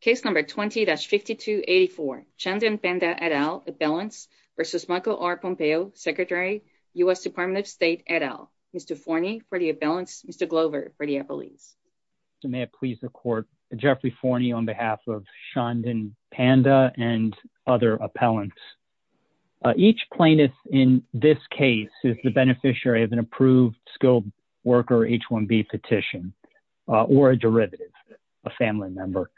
Case number 20-5284 Shandan Panda et al. Appellants versus Michael R. Pompeo, Secretary, U.S. Department of State et al. Mr. Forney for the appellants, Mr. Glover for the appellees. May I please the court, Jeffrey Forney on behalf of Shandan Panda and other appellants. Each plaintiff in this case is the beneficiary of an approved skilled worker H-1B petition or a derivative, a family member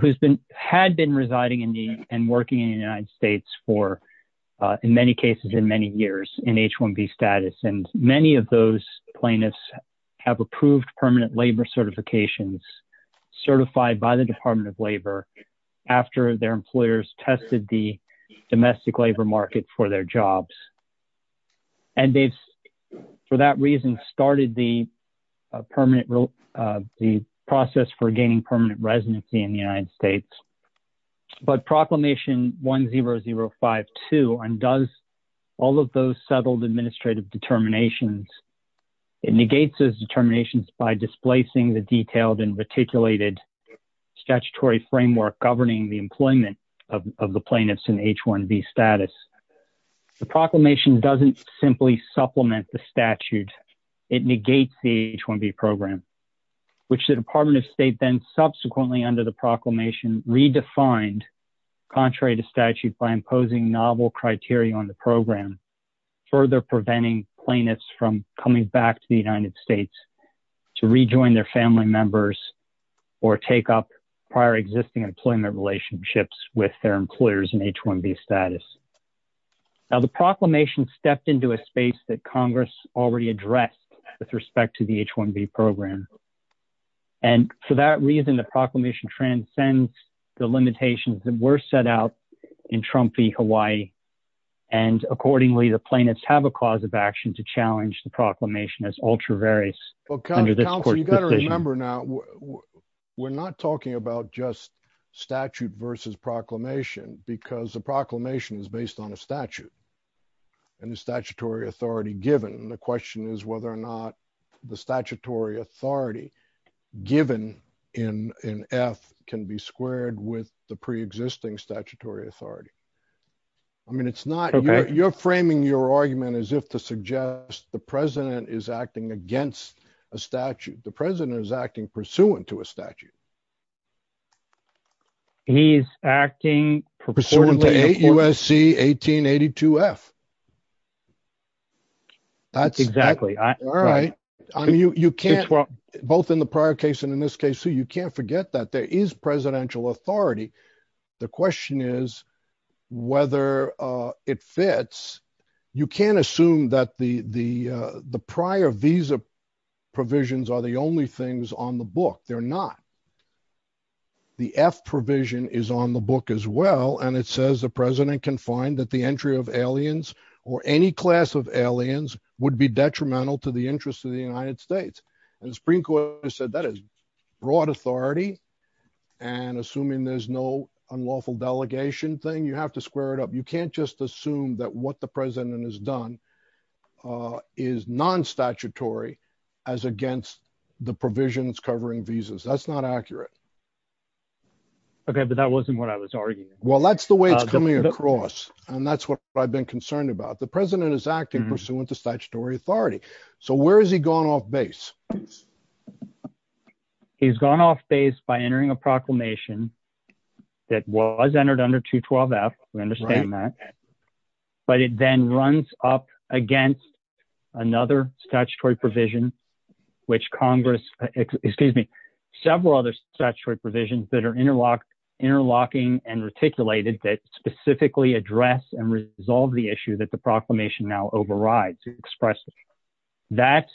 who's been had been residing in the and working in the United States for in many cases in many years in H-1B status. And many of those plaintiffs have approved permanent labor certifications certified by the Department of Labor after their employers tested the domestic labor market for their jobs. And they've, for that reason, started the permanent, the process for gaining permanent residency in the United States. But Proclamation 10052 undoes all of those settled administrative determinations. It negates those determinations by displacing the detailed and reticulated statutory framework governing the employment of the plaintiffs in H-1B status. The proclamation doesn't simply supplement the statute. It negates the H-1B program, which the Department of State then subsequently under the proclamation redefined contrary to statute by imposing novel criteria on the program, further preventing plaintiffs from coming back to the United States to rejoin their family members or take up prior existing employment relationships with their employers in H-1B status. Now, the proclamation stepped into a space that Congress already addressed with respect to the H-1B program. And for that reason, the proclamation transcends the limitations that were set out in Trump v. Hawaii. And accordingly, the plaintiffs have a cause of action to challenge the proclamation as ultra-various under this court's decision. Well, counsel, you got to remember now, we're not talking about just statute versus proclamation because the proclamation is based on a statute and the statutory authority given. And the question is whether or not the statutory authority given in F can be squared with the preexisting statutory authority. I mean, it's not, you're framing your argument as if to suggest the president is acting against a statute. The president is acting pursuant to a statute. He's acting pursuant to 8 U.S.C. 1882 F. That's exactly right. All right. I mean, you can't, both in the prior case and in this case, you can't forget that there is presidential authority. The question is whether it fits. You can't assume that the prior visa provisions are the only things on the book. They're not. The F provision is on the book as well. And it says the president can find that the entry of aliens or any class of aliens would be detrimental to the interest of the United States. And the Supreme Court has said that is broad authority. And assuming there's no unlawful delegation thing, you have to square it up. You can't just assume that what the president has done is non-statutory as against the provisions covering visas. That's not accurate. Okay. But that wasn't what I was arguing. Well, that's the way it's coming across. And that's what I've been concerned about. The president is acting pursuant to statutory authority. So where has he gone off base? He's gone off base by entering a proclamation that was entered under 212 F. We understand that, but it then runs up against another statutory provision, which Congress, excuse me, several other statutory provisions that are interlocking and reticulated that specifically address and resolve the issue that the proclamation now overrides, expresses. That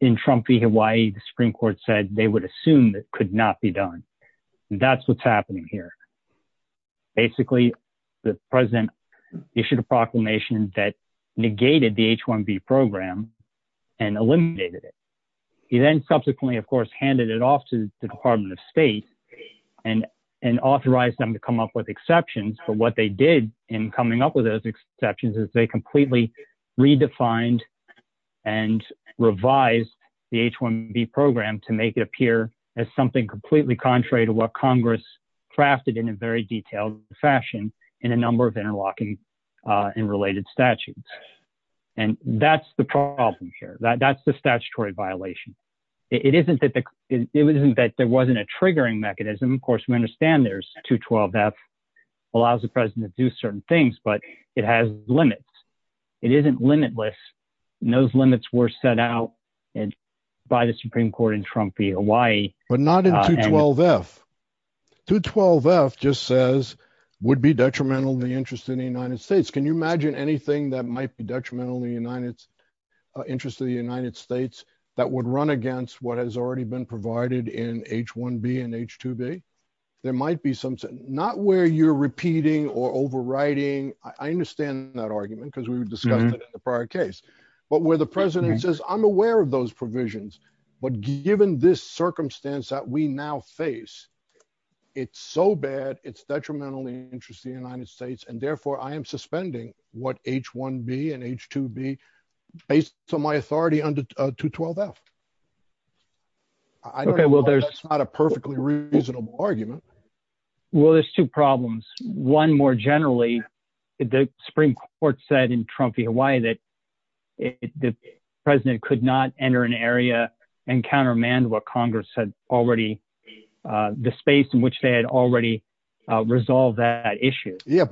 in Trump v. Hawaii, the Supreme Court said they would assume that could not be done. And that's what's happening here. Basically, the president issued a proclamation that negated the H-1B program and eliminated it. He then subsequently, of course, handed it off to the Department of State and authorized them to come up with exceptions. But what they did in coming up with those exceptions is they completely redefined and revised the H-1B program to make it appear as something completely contrary to what Congress crafted in a very detailed fashion in a number of interlocking and related statutes. And that's the problem here. That's the statutory violation. It isn't that there wasn't a triggering mechanism. Of course, we understand there's 212 F allows the president to do certain things, but it has limits. It isn't limitless. Those limits were set out by the Supreme Court in Trump v. Hawaii. But not in 212 F. 212 F just says, would be detrimental to the interest of the United States. Can you imagine anything that might be detrimental to the interest of the United States that would run against what has already been provided in H-1B and H-2B? There might be something. Not where you're repeating or overriding. I understand that argument because we've discussed it in the prior case, but where the president says, I'm aware of those provisions, but given this circumstance that we now face, it's so bad, it's detrimentally interesting in the United States. And therefore I am suspending what H-1B and H-2B, based on my authority under 212 F. I don't know if that's not a perfectly reasonable argument. Well, there's two problems. One more generally, the Supreme Court said in Trump v. Hawaii that the president could not enter an area and countermand what Congress had already, the space in which they had already resolved that issue. If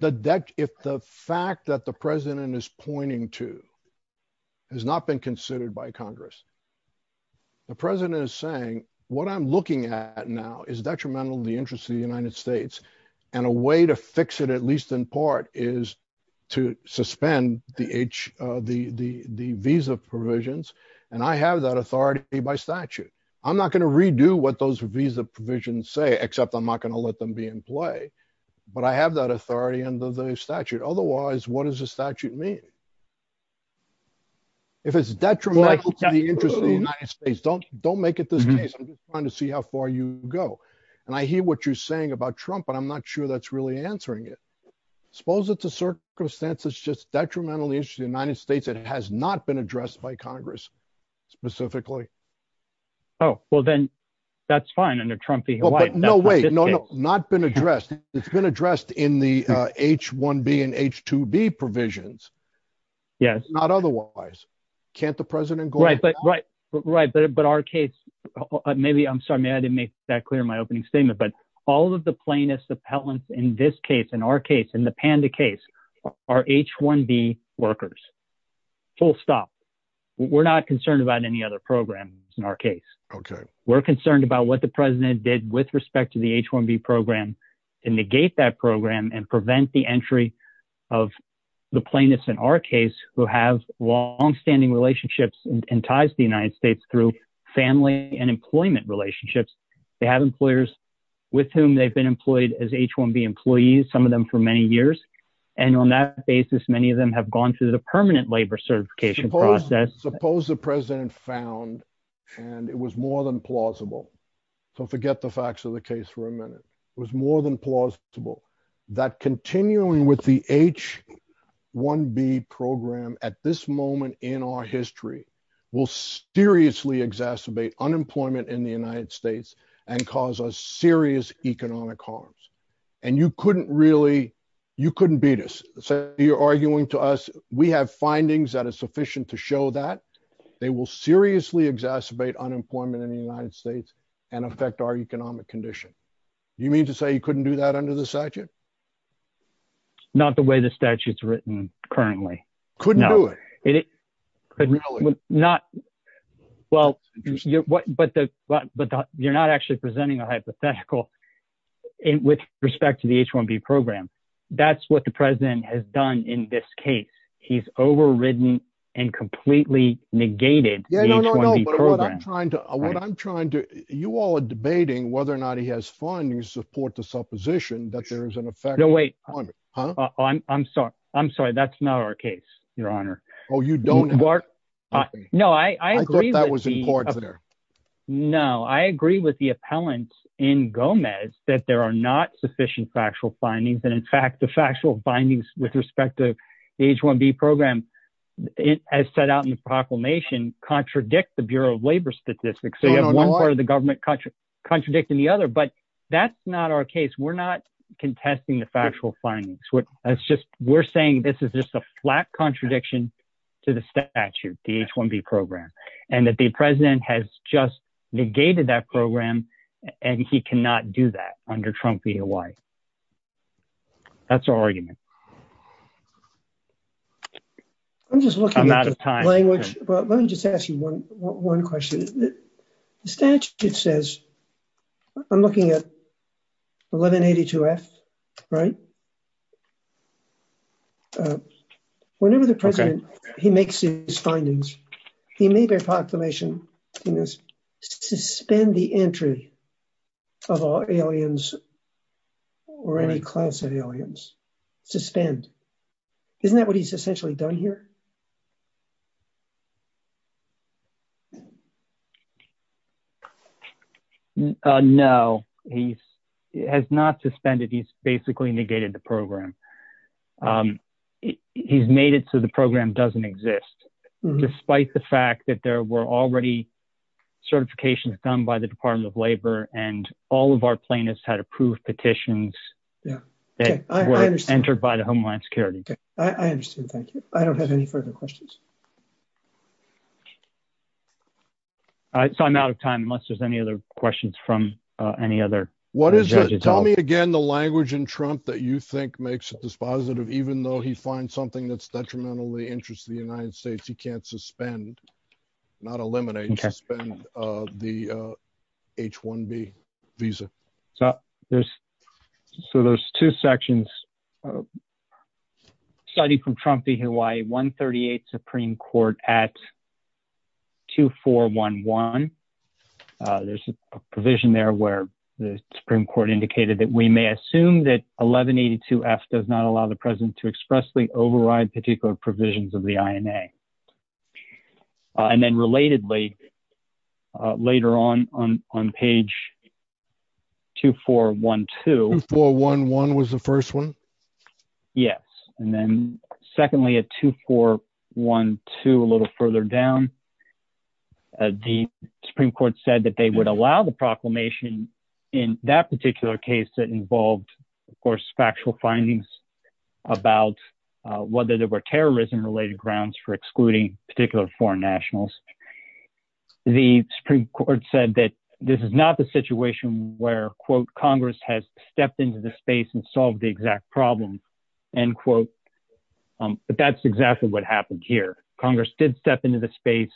the fact that the president is pointing to has not been considered by Congress, the president is saying what I'm looking at now is detrimental to the interest of the United States. And a way to fix it, at least in part, is to suspend the visa provisions. And I have that authority by statute. I'm not going to redo what those visa provisions say, except I'm not going to let them be in play. But I have that authority under the statute. Otherwise, what does the statute mean? If it's detrimental to the interest of the United States, don't make it this case. I'm just trying to see how far you go. And I hear what you're saying about Trump, but I'm not sure that's really answering it. Suppose it's a circumstance that's just detrimental to the United States that has not been addressed by Congress specifically. Oh, well, then that's fine under Trump v. Hawaii. No, wait, no, no, not been addressed. It's been addressed in the H-1B and H-2B provisions. Yes. Not otherwise. Can't the president go- Right, but our case, maybe, I'm sorry, I didn't make that clear in my opening statement, but all of the plaintiffs appellants in this case, in our case, in the Panda case, are H-1B workers. Full stop. We're not concerned about any other programs in our case. Okay. We're concerned about what the president did with respect to the H-1B program and negate that program and prevent the entry of the plaintiffs in our case who have longstanding relationships and ties to the United States through family and employment relationships. They have employers with whom they've been employed as H-1B employees, some of them for many years. And on that basis, many of them have gone through the permanent labor certification process. Suppose the president found, and it was more than plausible. Don't forget the facts of the case for a minute. It was more than plausible that continuing with the H-1B program at this moment in our history will seriously exacerbate unemployment in the United States and cause us serious economic harms. And you couldn't really, you couldn't beat us. So you're arguing to us, we have findings that are sufficient to show that they will seriously exacerbate unemployment in the United States and affect our economic condition. You mean to say you couldn't do that under the statute? Not the way the statute's written currently. Couldn't do it. Really? Well, you're not actually presenting a hypothetical with respect to the H-1B program. That's what the president has done in this case. He's overridden and completely negated the H-1B program. What I'm trying to, you all are debating whether or not he has findings to support the supposition that there is an effect on unemployment. I'm sorry. I'm sorry. That's not our case, your honor. Oh, you don't? No, I agree. I thought that was important there. No, I agree with the findings with respect to the H-1B program as set out in the proclamation contradict the Bureau of Labor Statistics. So you have one part of the government contradicting the other, but that's not our case. We're not contesting the factual findings. That's just, we're saying this is just a flat contradiction to the statute, the H-1B program, and that the president has just negated that program and he cannot do that under Trump VOI. That's our argument. I'm just looking at the language. I'm out of time. Well, let me just ask you one question. The statute says, I'm looking at 1182F, right? Whenever the president, he makes his findings, he made a proclamation in this suspend the entry of all aliens or any class of aliens. Suspend. Isn't that what he's essentially done here? No, he has not suspended. He's basically negated the program. He's made it so the program doesn't exist despite the fact that there were already certifications done by the Department of Labor and all of our plaintiffs had approved petitions that were entered by the Homeland Security. I understand. Thank you. I don't have any further questions. All right. So I'm out of time unless there's any other questions from any other judges. What is it? Tell me again, the language in Trump that you think makes it dispositive, even though he finds something that's detrimentally interesting to the United States, he can't suspend, not eliminate, suspend the H-1B visa. So there's, so there's two sections. Study from Trump v. Hawaii, 138, Supreme Court at 2411. There's a provision there where the Supreme Court indicated that we may assume that 1182F does not allow the president to expressly override particular provisions of the INA. And then relatedly, later on, on page 2412. 2411 was the first one? Yes. And then secondly, at 2412, a little further down, the Supreme Court said that they would allow the proclamation in that particular case that involved, of course, factual findings about whether there were terrorism-related grounds for excluding particular foreign nationals. The Supreme Court said that this is not the Congress has stepped into the space and solved the exact problem. And quote, but that's exactly what happened here. Congress did step into the space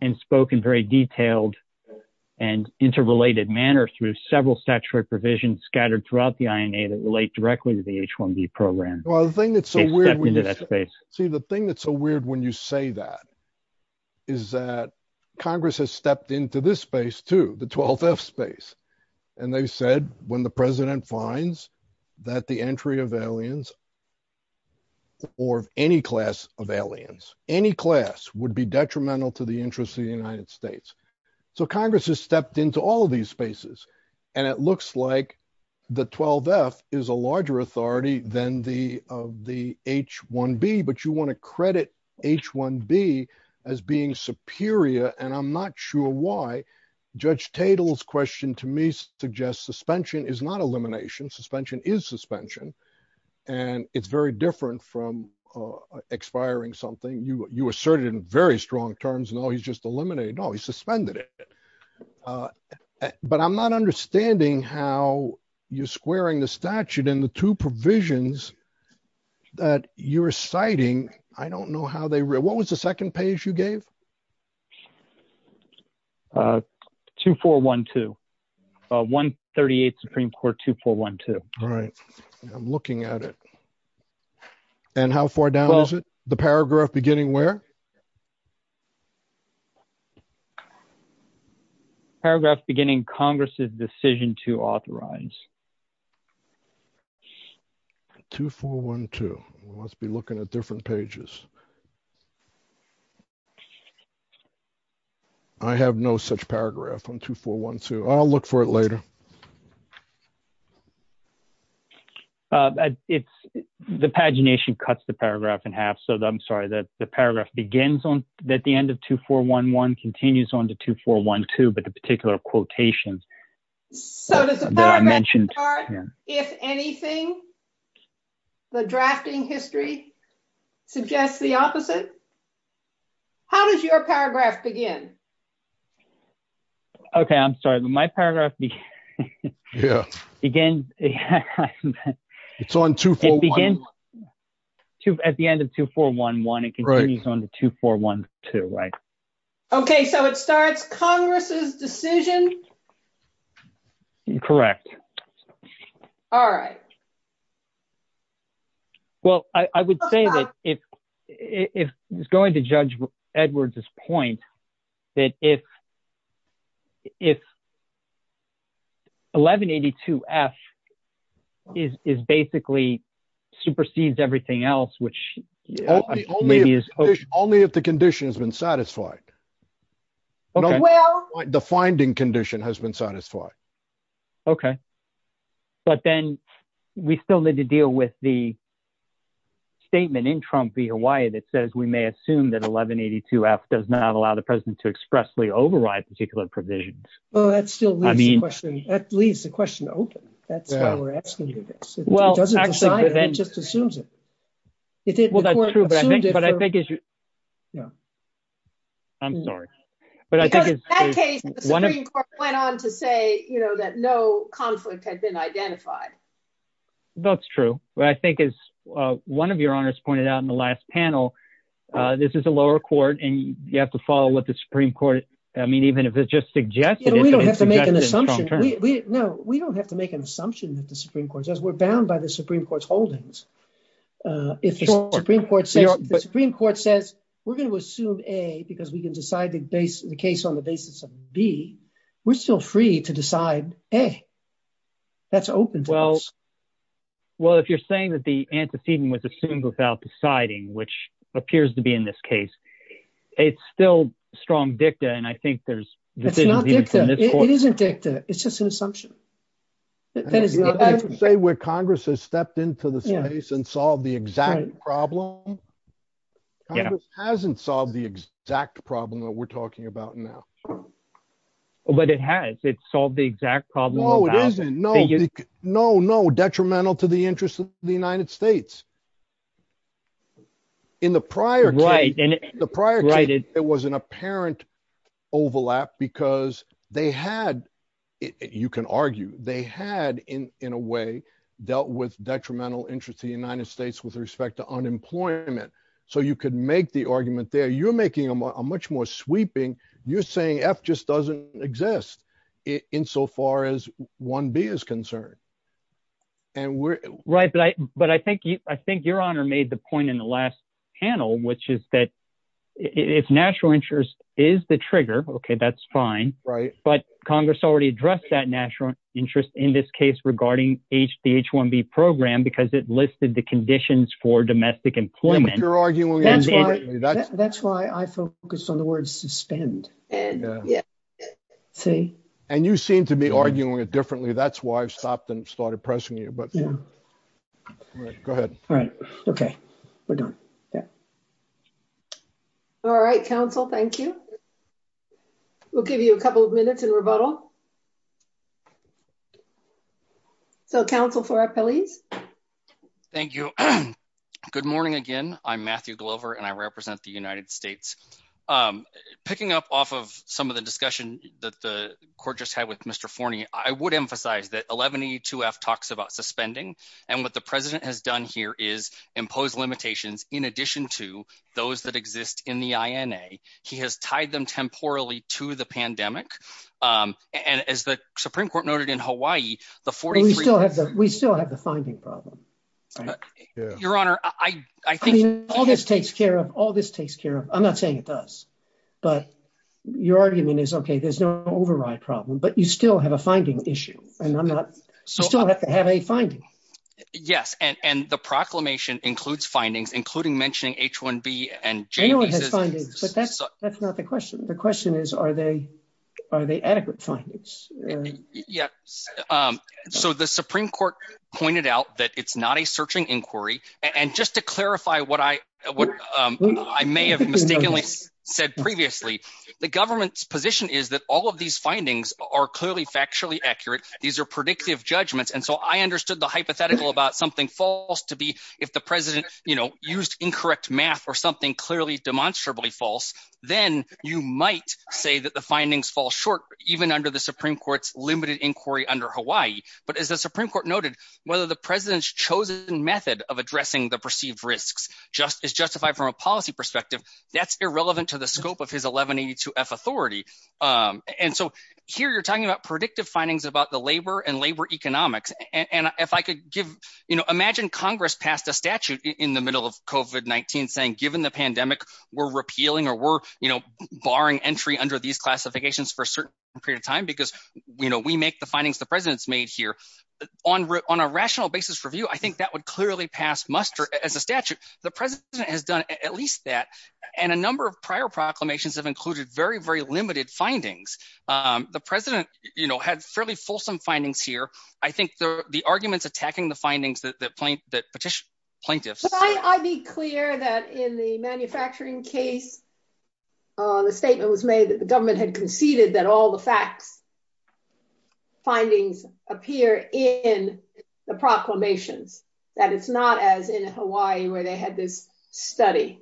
and spoken very detailed and interrelated manner through several statutory provisions scattered throughout the INA that relate directly to the H-1B program. Well, the thing that's so weird, see the thing that's so weird when you say that is that Congress has stepped into this space too, the 12F space. And they said, when the president finds that the entry of aliens or any class of aliens, any class would be detrimental to the interests of the United States. So Congress has stepped into all of these spaces. And it looks like the 12F is a larger authority than the, of the H-1B, but you want to credit H-1B as being superior. And I'm not sure why. Judge Tatel's question to me suggests suspension is not elimination. Suspension is suspension. And it's very different from expiring something you, you asserted in very strong terms. No, he's just eliminated. No, he suspended it. But I'm not understanding how you're squaring the statute and the two provisions that you're citing. I don't know how they, what was the second page you gave? 2412, 138th Supreme Court 2412. All right. I'm looking at it. And how far down is it? The paragraph beginning where? Paragraph beginning Congress's decision to authorize. 2412. We must be looking at different pages. I have no such paragraph on 2412. I'll look for it later. It's the pagination cuts the paragraph in half. So I'm sorry that the paragraph begins on, that the end of 2411 continues on to 2412, but the particular quotations So does the paragraph start, if anything, the drafting history suggests the opposite? How does your paragraph begin? Okay. I'm sorry. My paragraph begins, it's on 2411. It begins at the end of 2411. It continues on to 2412, right? Okay. So it starts Congress's decision. Correct. All right. Well, I would say that if, if going to judge Edward's point that if, if 1182 F is, is basically supersedes everything else, which only, only if the condition has been satisfied, the finding condition has been satisfied. Okay. But then we still need to deal with the statement in Trump v. Hawaii that says, we may assume that 1182 F does not allow the president to expressly override particular provisions. Well, that's still the question, at least the question open. That's why we're asking you this. It doesn't just assumes it. But I think, but I think as you, I'm sorry, but I think it's true. In that case, the Supreme Court went on to say, you know, that no conflict had been identified. That's true. But I think as one of your honors pointed out in the last panel, this is a lower court and you have to follow what the Supreme Court, I mean, even if it's just suggested. We don't have to make an assumption. No, we don't have to make an assumption that the Supreme Court says we're bound by the Supreme Court says we're going to assume a, because we can decide to base the case on the basis of B, we're still free to decide. Hey, that's open. Well, well, if you're saying that the antecedent was assumed without deciding, which appears to be in this case, it's still strong dicta. And I think there's, it isn't dicta. It's just an assumption. That is, I would say where Congress has stepped into the space and solved the exact problem. Hasn't solved the exact problem that we're talking about now. But it has, it's solved the exact problem. No, it isn't. No, no, detrimental to the interest of the United States. In the prior case, the prior case, it was an apparent overlap because they had, you can argue they had in a way dealt with detrimental interest to the United States with respect to unemployment. So you could make the argument there. You're making a much more sweeping. You're saying F just doesn't exist in so far as one B is concerned. And we're right. But I, but I think you, I think your honor made the point in the last panel, which is that it's natural interest is the trigger. Okay. That's fine. Right. But Congress already addressed that natural interest in this case regarding H the H one B program, because it listed the conditions for domestic employment. You're arguing. That's why I focused on the word suspend and see, and you seem to be arguing it differently. That's why I've stopped and started pressing you, but go ahead. All right. Okay. We're done. All right. Council. Thank you. We'll give you a couple of minutes in rebuttal. So council for our police. Thank you. Good morning again. I'm Matthew Glover and I represent the United States. I'm picking up off of some of the discussion that the court just had with Mr. Forney. I would emphasize that 1182 F talks about suspending. And what the president has done here is impose limitations. In addition to those that exist in the INA, he has tied them temporally to the pandemic. And as the Supreme court noted in Hawaii, the 43, we still have the, we still have the finding problem. Your honor. I think all this takes care of all this takes care of. I'm not saying it does, but your argument is okay. There's no override problem, but you still have a finding issue. And I'm not, you still have to have a finding. Yes. And, and the proclamation includes findings, including mentioning H one B and J. But that's, that's not the question. The question is, are they, are they adequate findings? Yeah. So the Supreme court pointed out that it's not a searching inquiry. And just to clarify what I, what I may have mistakenly said previously, the government's position is that all of these findings are clearly factually accurate. These are predictive judgments. And so I understood the hypothetical about something false to be, if the president, you know, used incorrect math or something clearly demonstrably false, then you might say that the findings fall short, even under the Supreme court's limited inquiry under Hawaii. But as the Supreme court noted, whether the president's chosen method of addressing the perceived risks, just as justified from a policy perspective, that's irrelevant to scope of his 1182 F authority. And so here, you're talking about predictive findings about the labor and labor economics. And if I could give, you know, imagine Congress passed a statute in the middle of COVID-19 saying, given the pandemic we're repealing, or we're, you know, barring entry under these classifications for a certain period of time, because we know we make the findings the president's made here on, on a rational basis review. I think that would clearly pass muster as a statute, the president has done at least that. And a number of prior proclamations have included very, very limited findings. The president, you know, had fairly fulsome findings here. I think the arguments attacking the findings that point that petition plaintiffs, I be clear that in the manufacturing case, the statement was made that the government had conceded that all the facts findings appear in the proclamations that it's not as in Hawaii, where they had this study.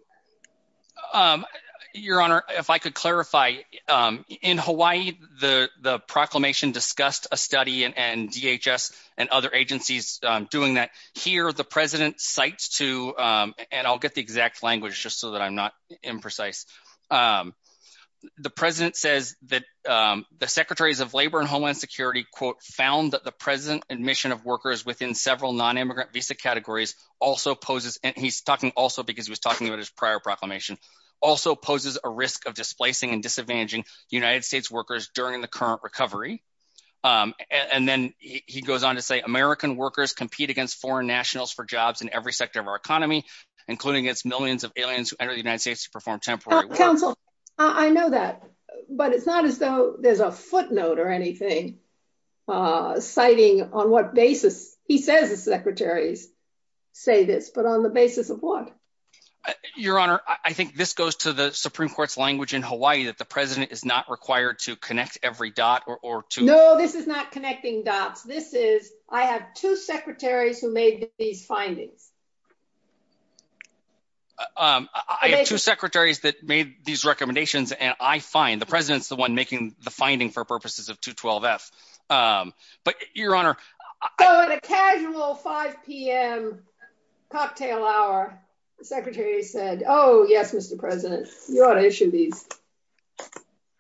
Your honor, if I could clarify, in Hawaii, the proclamation discussed a study and DHS and other agencies doing that here, the president cites to, and I'll get the the secretaries of labor and Homeland Security quote, found that the present admission of workers within several non immigrant visa categories also poses and he's talking also because he was talking about his prior proclamation also poses a risk of displacing and disadvantaging United States workers during the current recovery. And then he goes on to say American workers compete against foreign nationals for jobs in every sector of our economy, including its millions of aliens United States to perform temporary counsel. I know that. But it's not as though there's a footnote or anything citing on what basis he says the secretaries say this, but on the basis of what? Your honor, I think this goes to the Supreme Court's language in Hawaii that the president is not required to connect every dot or two. No, this is not connecting dots. This is I have two secretaries who made these findings. I have two secretaries that made these recommendations. And I find the president's the one making the finding for purposes of 212 F. But your honor, I had a casual 5pm cocktail hour, the secretary said, Oh, yes, Mr. President, you ought to issue these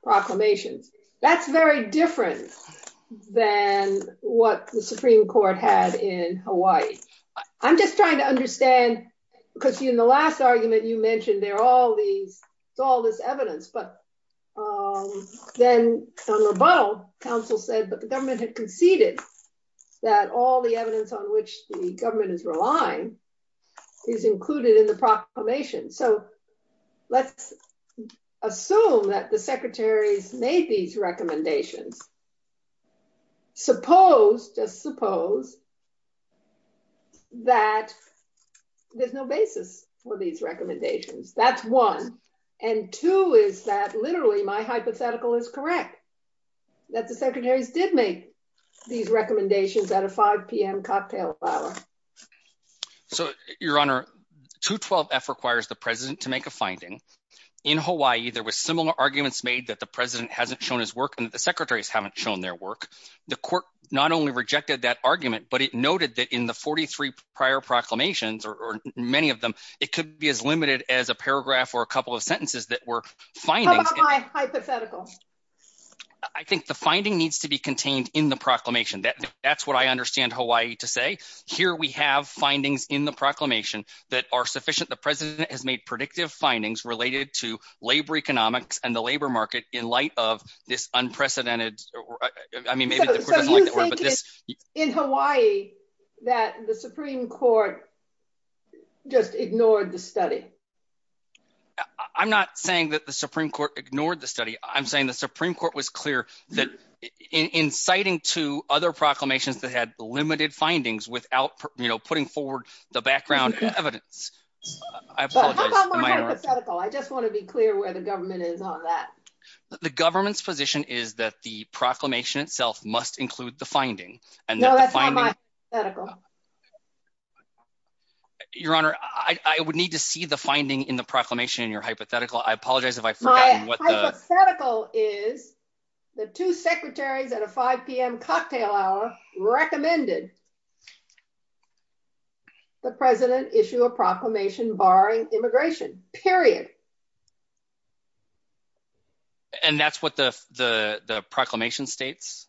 proclamations. That's very different than what the Supreme Court had in Hawaii. I'm just trying to understand, because in the last argument, you mentioned they're all these, it's all this evidence, but then on rebuttal, counsel said, but the government had conceded that all the evidence on which the government is relying is included in the proclamation. So let's assume that the secretaries made these recommendations. Suppose just suppose that there's no basis for these recommendations. That's one. And two is that literally, my hypothetical is correct, that the secretaries did make these recommendations at a 5pm cocktail hour. So your honor, 212 F requires the president to make a finding. In Hawaii, there was similar arguments made that the president hasn't shown his work, and the secretaries haven't shown their work. The court not only rejected that argument, but it noted that in the 43 prior proclamations, or many of them, it could be as limited as a paragraph or a couple of sentences that were finding hypothetical. I think the finding needs to be contained in proclamation. That's what I understand Hawaii to say. Here we have findings in the proclamation that are sufficient. The president has made predictive findings related to labor economics and the labor market in light of this unprecedented. I mean, in Hawaii, that the Supreme Court just ignored the study. I'm not saying that the Supreme Court ignored the study. I'm saying the Supreme Court was clear that inciting to other proclamations that had limited findings without, you know, putting forward the background evidence. I just want to be clear where the government is on that. The government's position is that the proclamation itself must include the finding. Your honor, I would need to see the finding in the proclamation in your hypothetical. I apologize if I forgot. My hypothetical is the two secretaries at a 5 p.m. cocktail hour recommended the president issue a proclamation barring immigration, period. And that's what the proclamation states?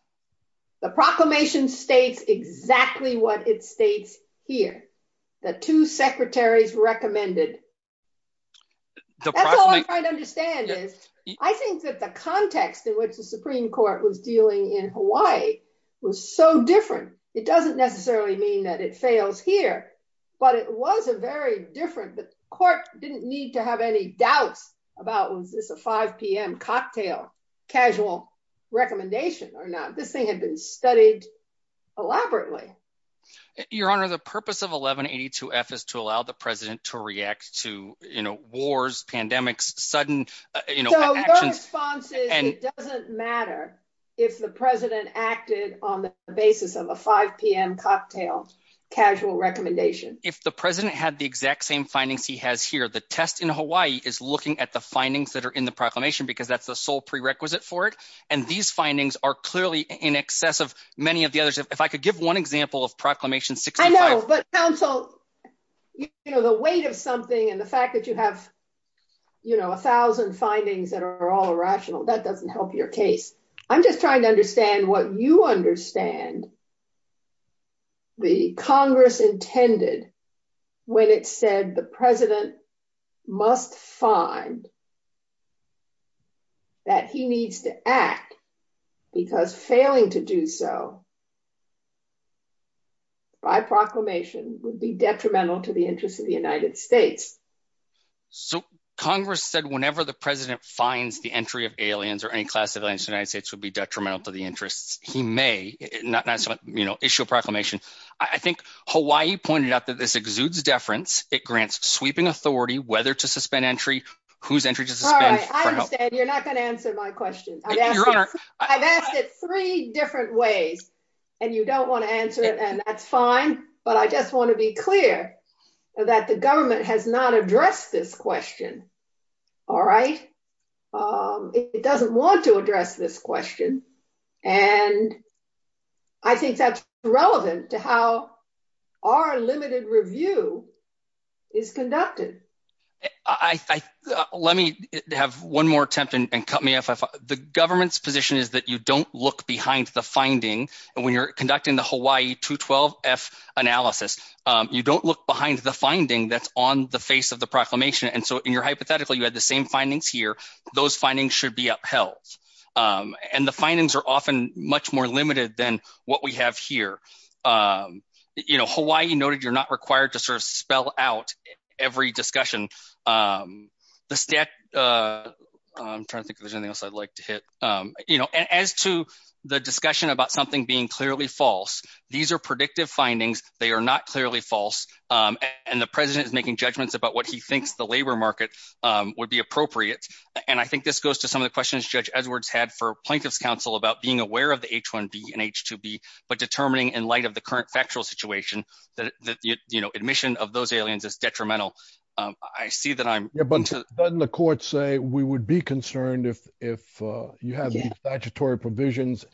The proclamation states exactly what it states here. The two secretaries recommended. I think that the context in which the Supreme Court was dealing in Hawaii was so different. It doesn't necessarily mean that it fails here, but it was a very different. The court didn't need to have any doubts about was this a 5 p.m. cocktail, casual recommendation or not. This thing has been studied elaborately. Your honor, the purpose of 1182 F is to allow the president to react to, you know, wars, pandemics, sudden, you know, responses. And it doesn't matter if the president acted on the basis of a 5 p.m. cocktail, casual recommendation. If the president had the exact same findings he has here, the test in Hawaii is looking at the findings that are in the proclamation because that's the sole prerequisite for it. And these findings are clearly in excess of many of the others. If I could give one example of Proclamation 65. I know, but counsel, you know, the weight of something and the fact that you have, you know, a thousand findings that are all irrational, that doesn't help your case. I'm just trying to understand what you understand. The Congress intended when it said the president must find. That he needs to act because failing to do so. By proclamation would be detrimental to the interest of the United States. So Congress said whenever the president finds the entry of aliens or any class of aliens, the United States would be detrimental to the interests. He may not, you know, issue a proclamation. I think Hawaii pointed out that this exudes deference. It grants sweeping authority, whether to suspend entry, whose entry to suspend. You're not going to answer my question. I've asked it three different ways. And you don't want to answer it. And that's fine. But I just want to be clear that the government has not addressed this question. All right. It doesn't want to address this question. And I think that's relevant to how our limited review is conducted. Let me have one more attempt and cut me off. The government's position is that you don't look behind the finding. And when you're conducting the Hawaii 212 F analysis, you don't look behind the finding that's on the face of the proclamation. And so in your hypothetical, you had the same findings here. Those findings should be upheld. And the findings are often much more limited than what we have here. You know, Hawaii noted, you're not required to sort of spell out every discussion. The stat, I'm trying to think if there's anything else I'd like to hit, you know, as to the discussion about something being clearly false. These are predictive findings. They are not clearly false. And the president is making judgments about what he thinks the labor market would be appropriate. And I think this goes to the questions Judge Edwards had for plaintiff's counsel about being aware of the H1B and H2B, but determining in light of the current factual situation that, you know, admission of those aliens is detrimental. I see that I'm- Yeah, but doesn't the court say we would be concerned if you have these statutory provisions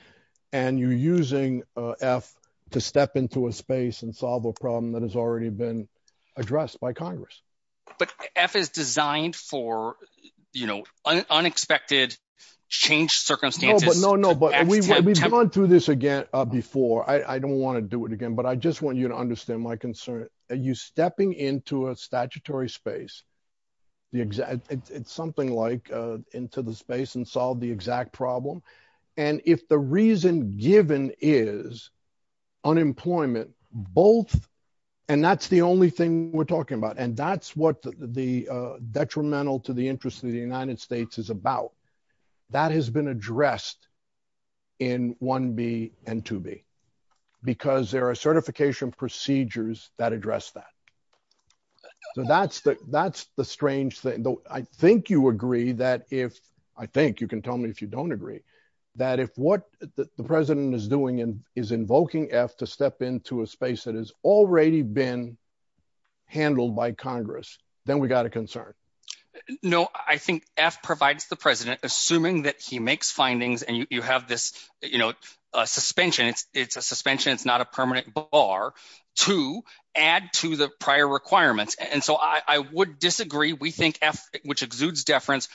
and you're using F to step into a space and solve a problem that has already been addressed by Congress? But F is designed for, you know, unexpected change circumstances. No, no, no, but we've gone through this again before. I don't want to do it again, but I just want you to understand my concern. You stepping into a statutory space, the exact, it's something like into the space and solve the exact problem. And if the reason given is unemployment, both, and that's the only thing we're talking about. And that's what the detrimental to the interest of the United States is about. That has been addressed in 1B and 2B because there are certification procedures that address that. So that's the strange thing. I think you agree that if, I think you can tell me if you don't agree, that if what the president is doing is invoking F to step into a space that has already been handled by Congress, then we got a concern. No, I think F provides the president assuming that he makes findings and you have this, you know, a suspension. It's a suspension. It's not a permanent bar to add to the prior requirements. And so I would disagree. We think F, which exudes categories.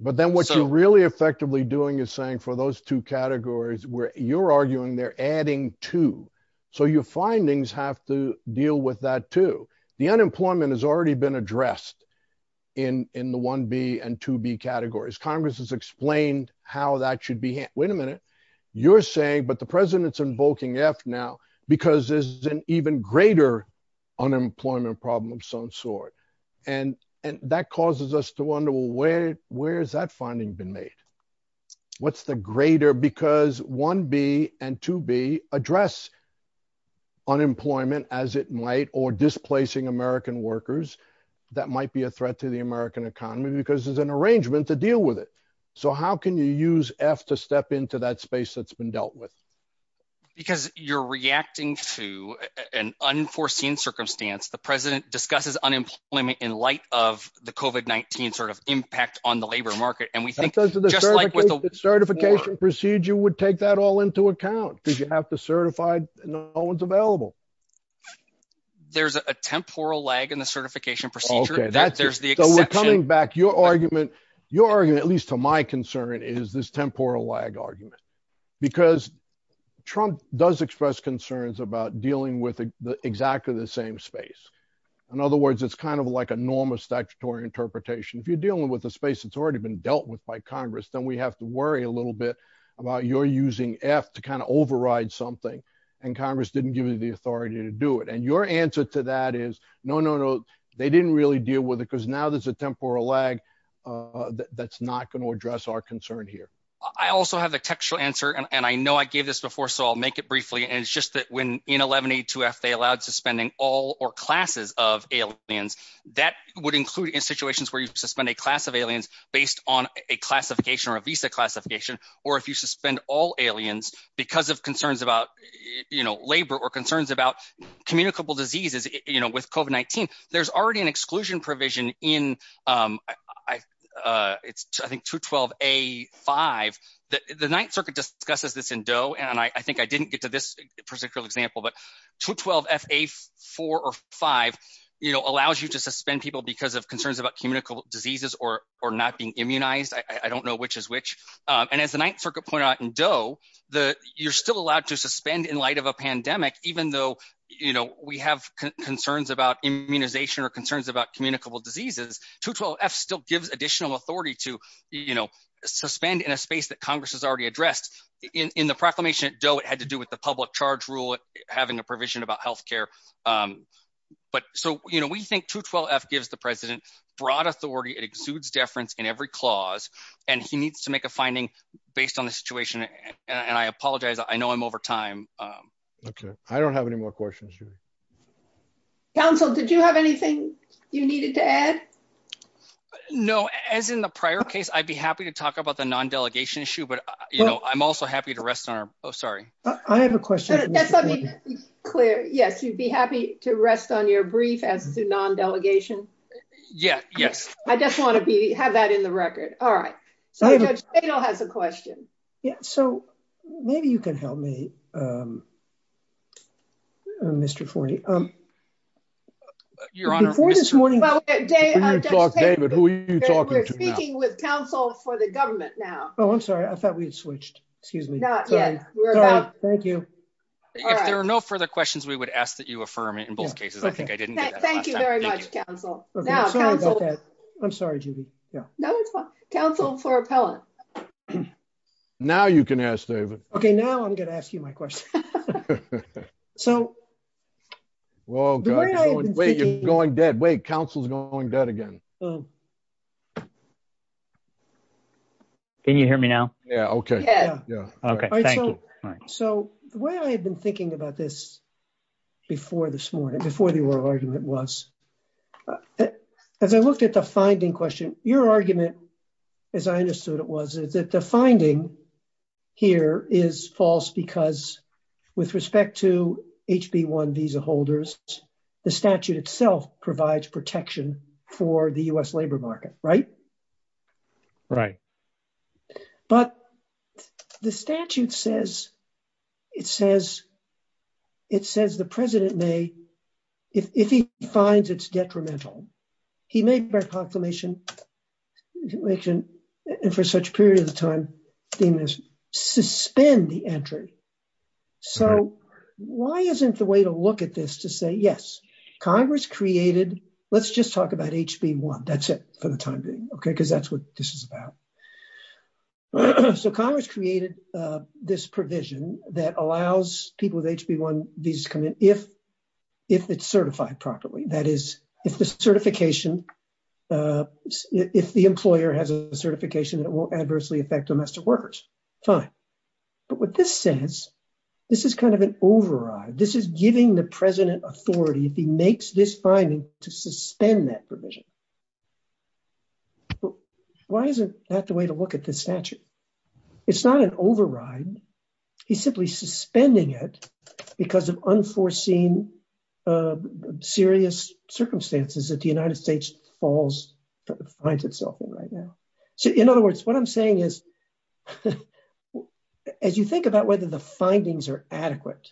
But then what you're really effectively doing is saying for those two categories where you're arguing they're adding two. So your findings have to deal with that too. The unemployment has already been addressed in the 1B and 2B categories. Congress has explained how that should be handled. Wait a minute. You're saying, but the president's invoking F now because there's an even greater unemployment problem of some sort. And, and that causes us to wonder, well, where, where has that finding been made? What's the greater because 1B and 2B address unemployment as it might, or displacing American workers that might be a threat to the American economy because there's an arrangement to deal with it. So how can you use F to step into that space that's been dealt with? Because you're reacting to an unforeseen circumstance. The president discusses unemployment in light of the COVID-19 sort of impact on the labor market. And we think just like with the certification procedure would take that all into account because you have to certify no one's available. There's a temporal lag in the certification procedure that there's the exception. So we're coming back. Your argument, your argument, at this temporal lag argument, because Trump does express concerns about dealing with the exactly the same space. In other words, it's kind of like a normal statutory interpretation. If you're dealing with a space that's already been dealt with by Congress, then we have to worry a little bit about your using F to kind of override something. And Congress didn't give you the authority to do it. And your answer to that is no, no, no. They didn't really deal with it because now there's a temporal lag that's not going to address our concern here. I also have a textual answer. And I know I gave this before, so I'll make it briefly. And it's just that when in 1182F they allowed suspending all or classes of aliens, that would include in situations where you suspend a class of aliens based on a classification or a visa classification. Or if you suspend all aliens because of concerns about labor or concerns about communicable diseases with COVID-19, there's already an exclusion provision in, I think, 212A5. The Ninth Circuit discusses this in Doe. And I think I didn't get to this particular example, but 212FA4 or 5 allows you to suspend people because of concerns about communicable diseases or not being immunized. I don't know which is which. And as the Ninth Circuit pointed out in Doe, you're still allowed to suspend in pandemic, even though we have concerns about immunization or concerns about communicable diseases, 212F still gives additional authority to suspend in a space that Congress has already addressed. In the proclamation at Doe, it had to do with the public charge rule having a provision about health care. So we think 212F gives the president broad authority. It exudes deference in every clause. And he needs to make a finding based on the situation. And I apologize. I know I'm over time. Okay. I don't have any more questions. Council, did you have anything you needed to add? No. As in the prior case, I'd be happy to talk about the non-delegation issue, but I'm also happy to rest on our... Oh, sorry. I have a question. Let me be clear. Yes. You'd be happy to rest on your brief as to non-delegation? Yeah. Yes. I just want to have that in the record. All right. So Judge Tatel has a question. Yeah. So maybe you can help me, Mr. Forney. Your Honor... Before this morning... David, who are you talking to now? We're speaking with council for the government now. Oh, I'm sorry. I thought we had switched. Excuse me. Not yet. Sorry. Thank you. If there are no further questions, we would ask that you affirm in both cases. I think I can. Council for appellate. Now you can ask, David. Okay. Now I'm going to ask you my question. So... Wait, you're going dead. Wait. Council's going dead again. Can you hear me now? Yeah. Okay. Yeah. Yeah. Okay. All right. So the way I had been thinking about this before this morning, before the oral argument was, as I looked at the finding question, your argument, as I understood it was, is that the finding here is false because with respect to HB1 visa holders, the statute itself provides protection for the U.S. labor market, right? Right. But the statute says... It says the president may... If he finds it's detrimental, he may, by proclamation, and for such period of time, suspend the entry. So why isn't the way to look at this to say, yes, Congress created... Let's just talk about HB1. That's it for the time being, okay? Because that's what this is about. So Congress created this provision that allows people with HB1 visas come in if it's certified properly. That is, if the certification... If the employer has a certification that it won't adversely affect domestic workers, fine. But what this says, this is kind of an override. This is giving the president authority, if he makes this finding, to suspend that provision. Why isn't that the way to look at this statute? It's not an override. He's simply suspending it because of unforeseen serious circumstances that the United States falls... Finds itself in right now. So in other words, what I'm saying is, as you think about whether the findings are adequate,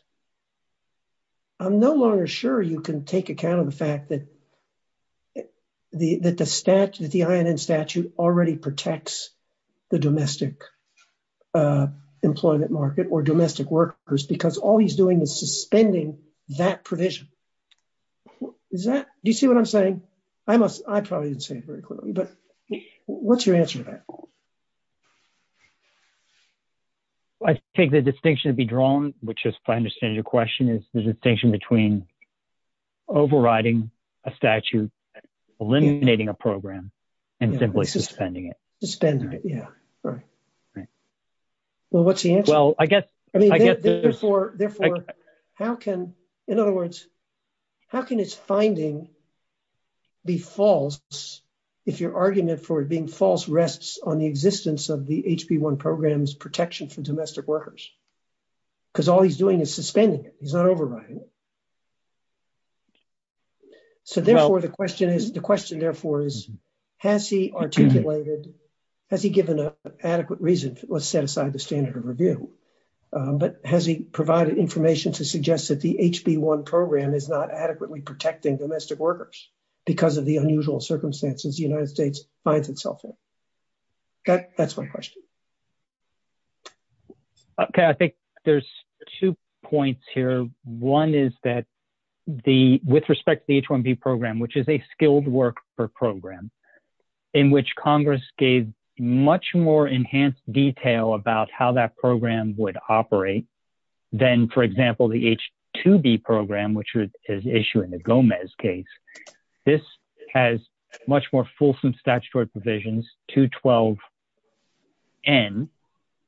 I'm no longer sure you can take account of the fact that the statute, the INN statute, already protects the domestic employment market or domestic workers because all he's doing is suspending that provision. Is that... Do you see what I'm saying? I probably didn't say it very clearly, but what's your answer to that? I take the distinction to be drawn, which is, if I understand your question, is the distinction between overriding a statute, eliminating a program, and simply suspending it. Suspending it, yeah, right. Well, what's the answer? Well, I guess... Therefore, how can... In other words, how can his finding be false if your argument for it being false rests on the existence of the HB1 program's protection from domestic workers? Because all he's doing is suspending it. He's not overriding it. So therefore, the question is... The question is, has he given an adequate reason? Let's set aside the standard of review, but has he provided information to suggest that the HB1 program is not adequately protecting domestic workers because of the unusual circumstances the United States finds itself in? That's my question. Okay. I think there's two points here. One is that with respect to the H1B program, which is a skilled worker program in which Congress gave much more enhanced detail about how that program would operate than, for example, the H2B program, which is issued in the Gomez case, this has much more fulsome statutory provisions. 212N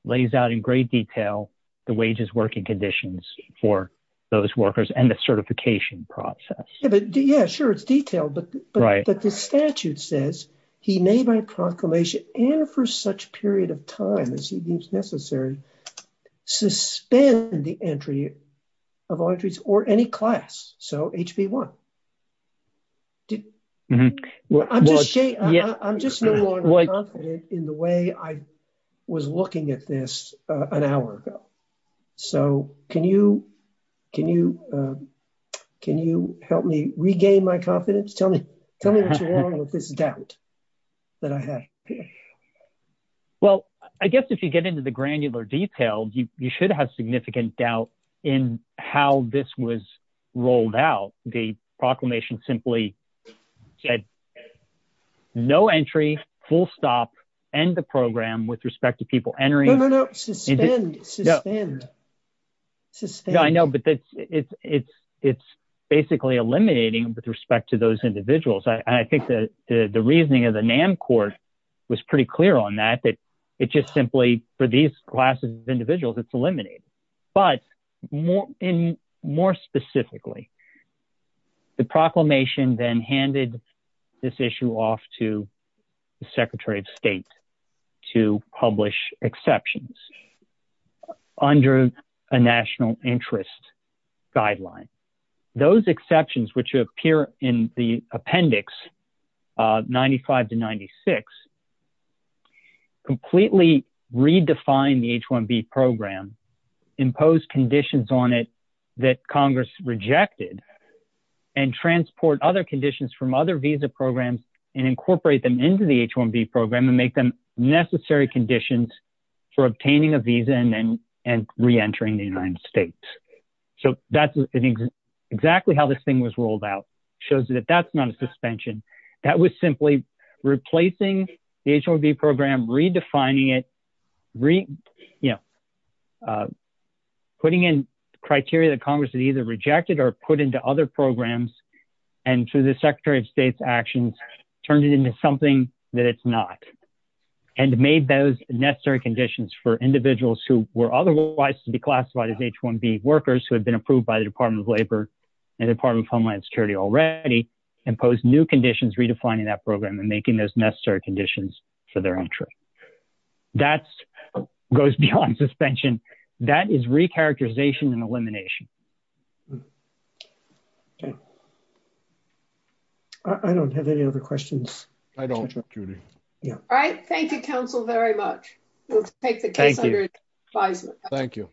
lays out in great detail the wages working conditions for those workers and the certification process. Yeah, sure. It's detailed, but the statute says he may, by proclamation and for such period of time as he deems necessary, suspend the entry of all entries or any class. So HB1. I'm just no longer confident in the way I was looking at this an hour ago. So can you help me regain my confidence? Tell me what's wrong with this doubt that I had. Well, I guess if you get into the granular detail, you should have significant doubt in how this was rolled out. The proclamation simply said, no entry, full stop, end the program with respect to people entering. No, no, no, suspend, suspend, suspend. I know, but it's basically eliminating with respect to those individuals. I think the reasoning of the NAM court was pretty clear on that, that it just simply for these classes of individuals, it's eliminated. But more specifically, the proclamation then handed this issue off to the secretary of state to publish exceptions under a national interest guideline. Those exceptions, which appear in the appendix 95 to 96, completely redefine the H1B program, impose conditions on it that Congress rejected, and transport other conditions from other visa programs and incorporate them into the H1B program and make them necessary conditions for obtaining a visa and re-entering the United States. So that's exactly how this thing was rolled out. Shows you that that's not a suspension. That was simply replacing the H1B program, redefining it, putting in criteria that other programs, and through the secretary of state's actions, turned it into something that it's not, and made those necessary conditions for individuals who were otherwise to be classified as H1B workers who had been approved by the Department of Labor and the Department of Homeland Security already, imposed new conditions, redefining that program and making those necessary conditions for their entry. That goes beyond suspension. That is recharacterization and I don't have any other questions. I don't. All right. Thank you, counsel, very much. We'll take the case under advisement. Thank you.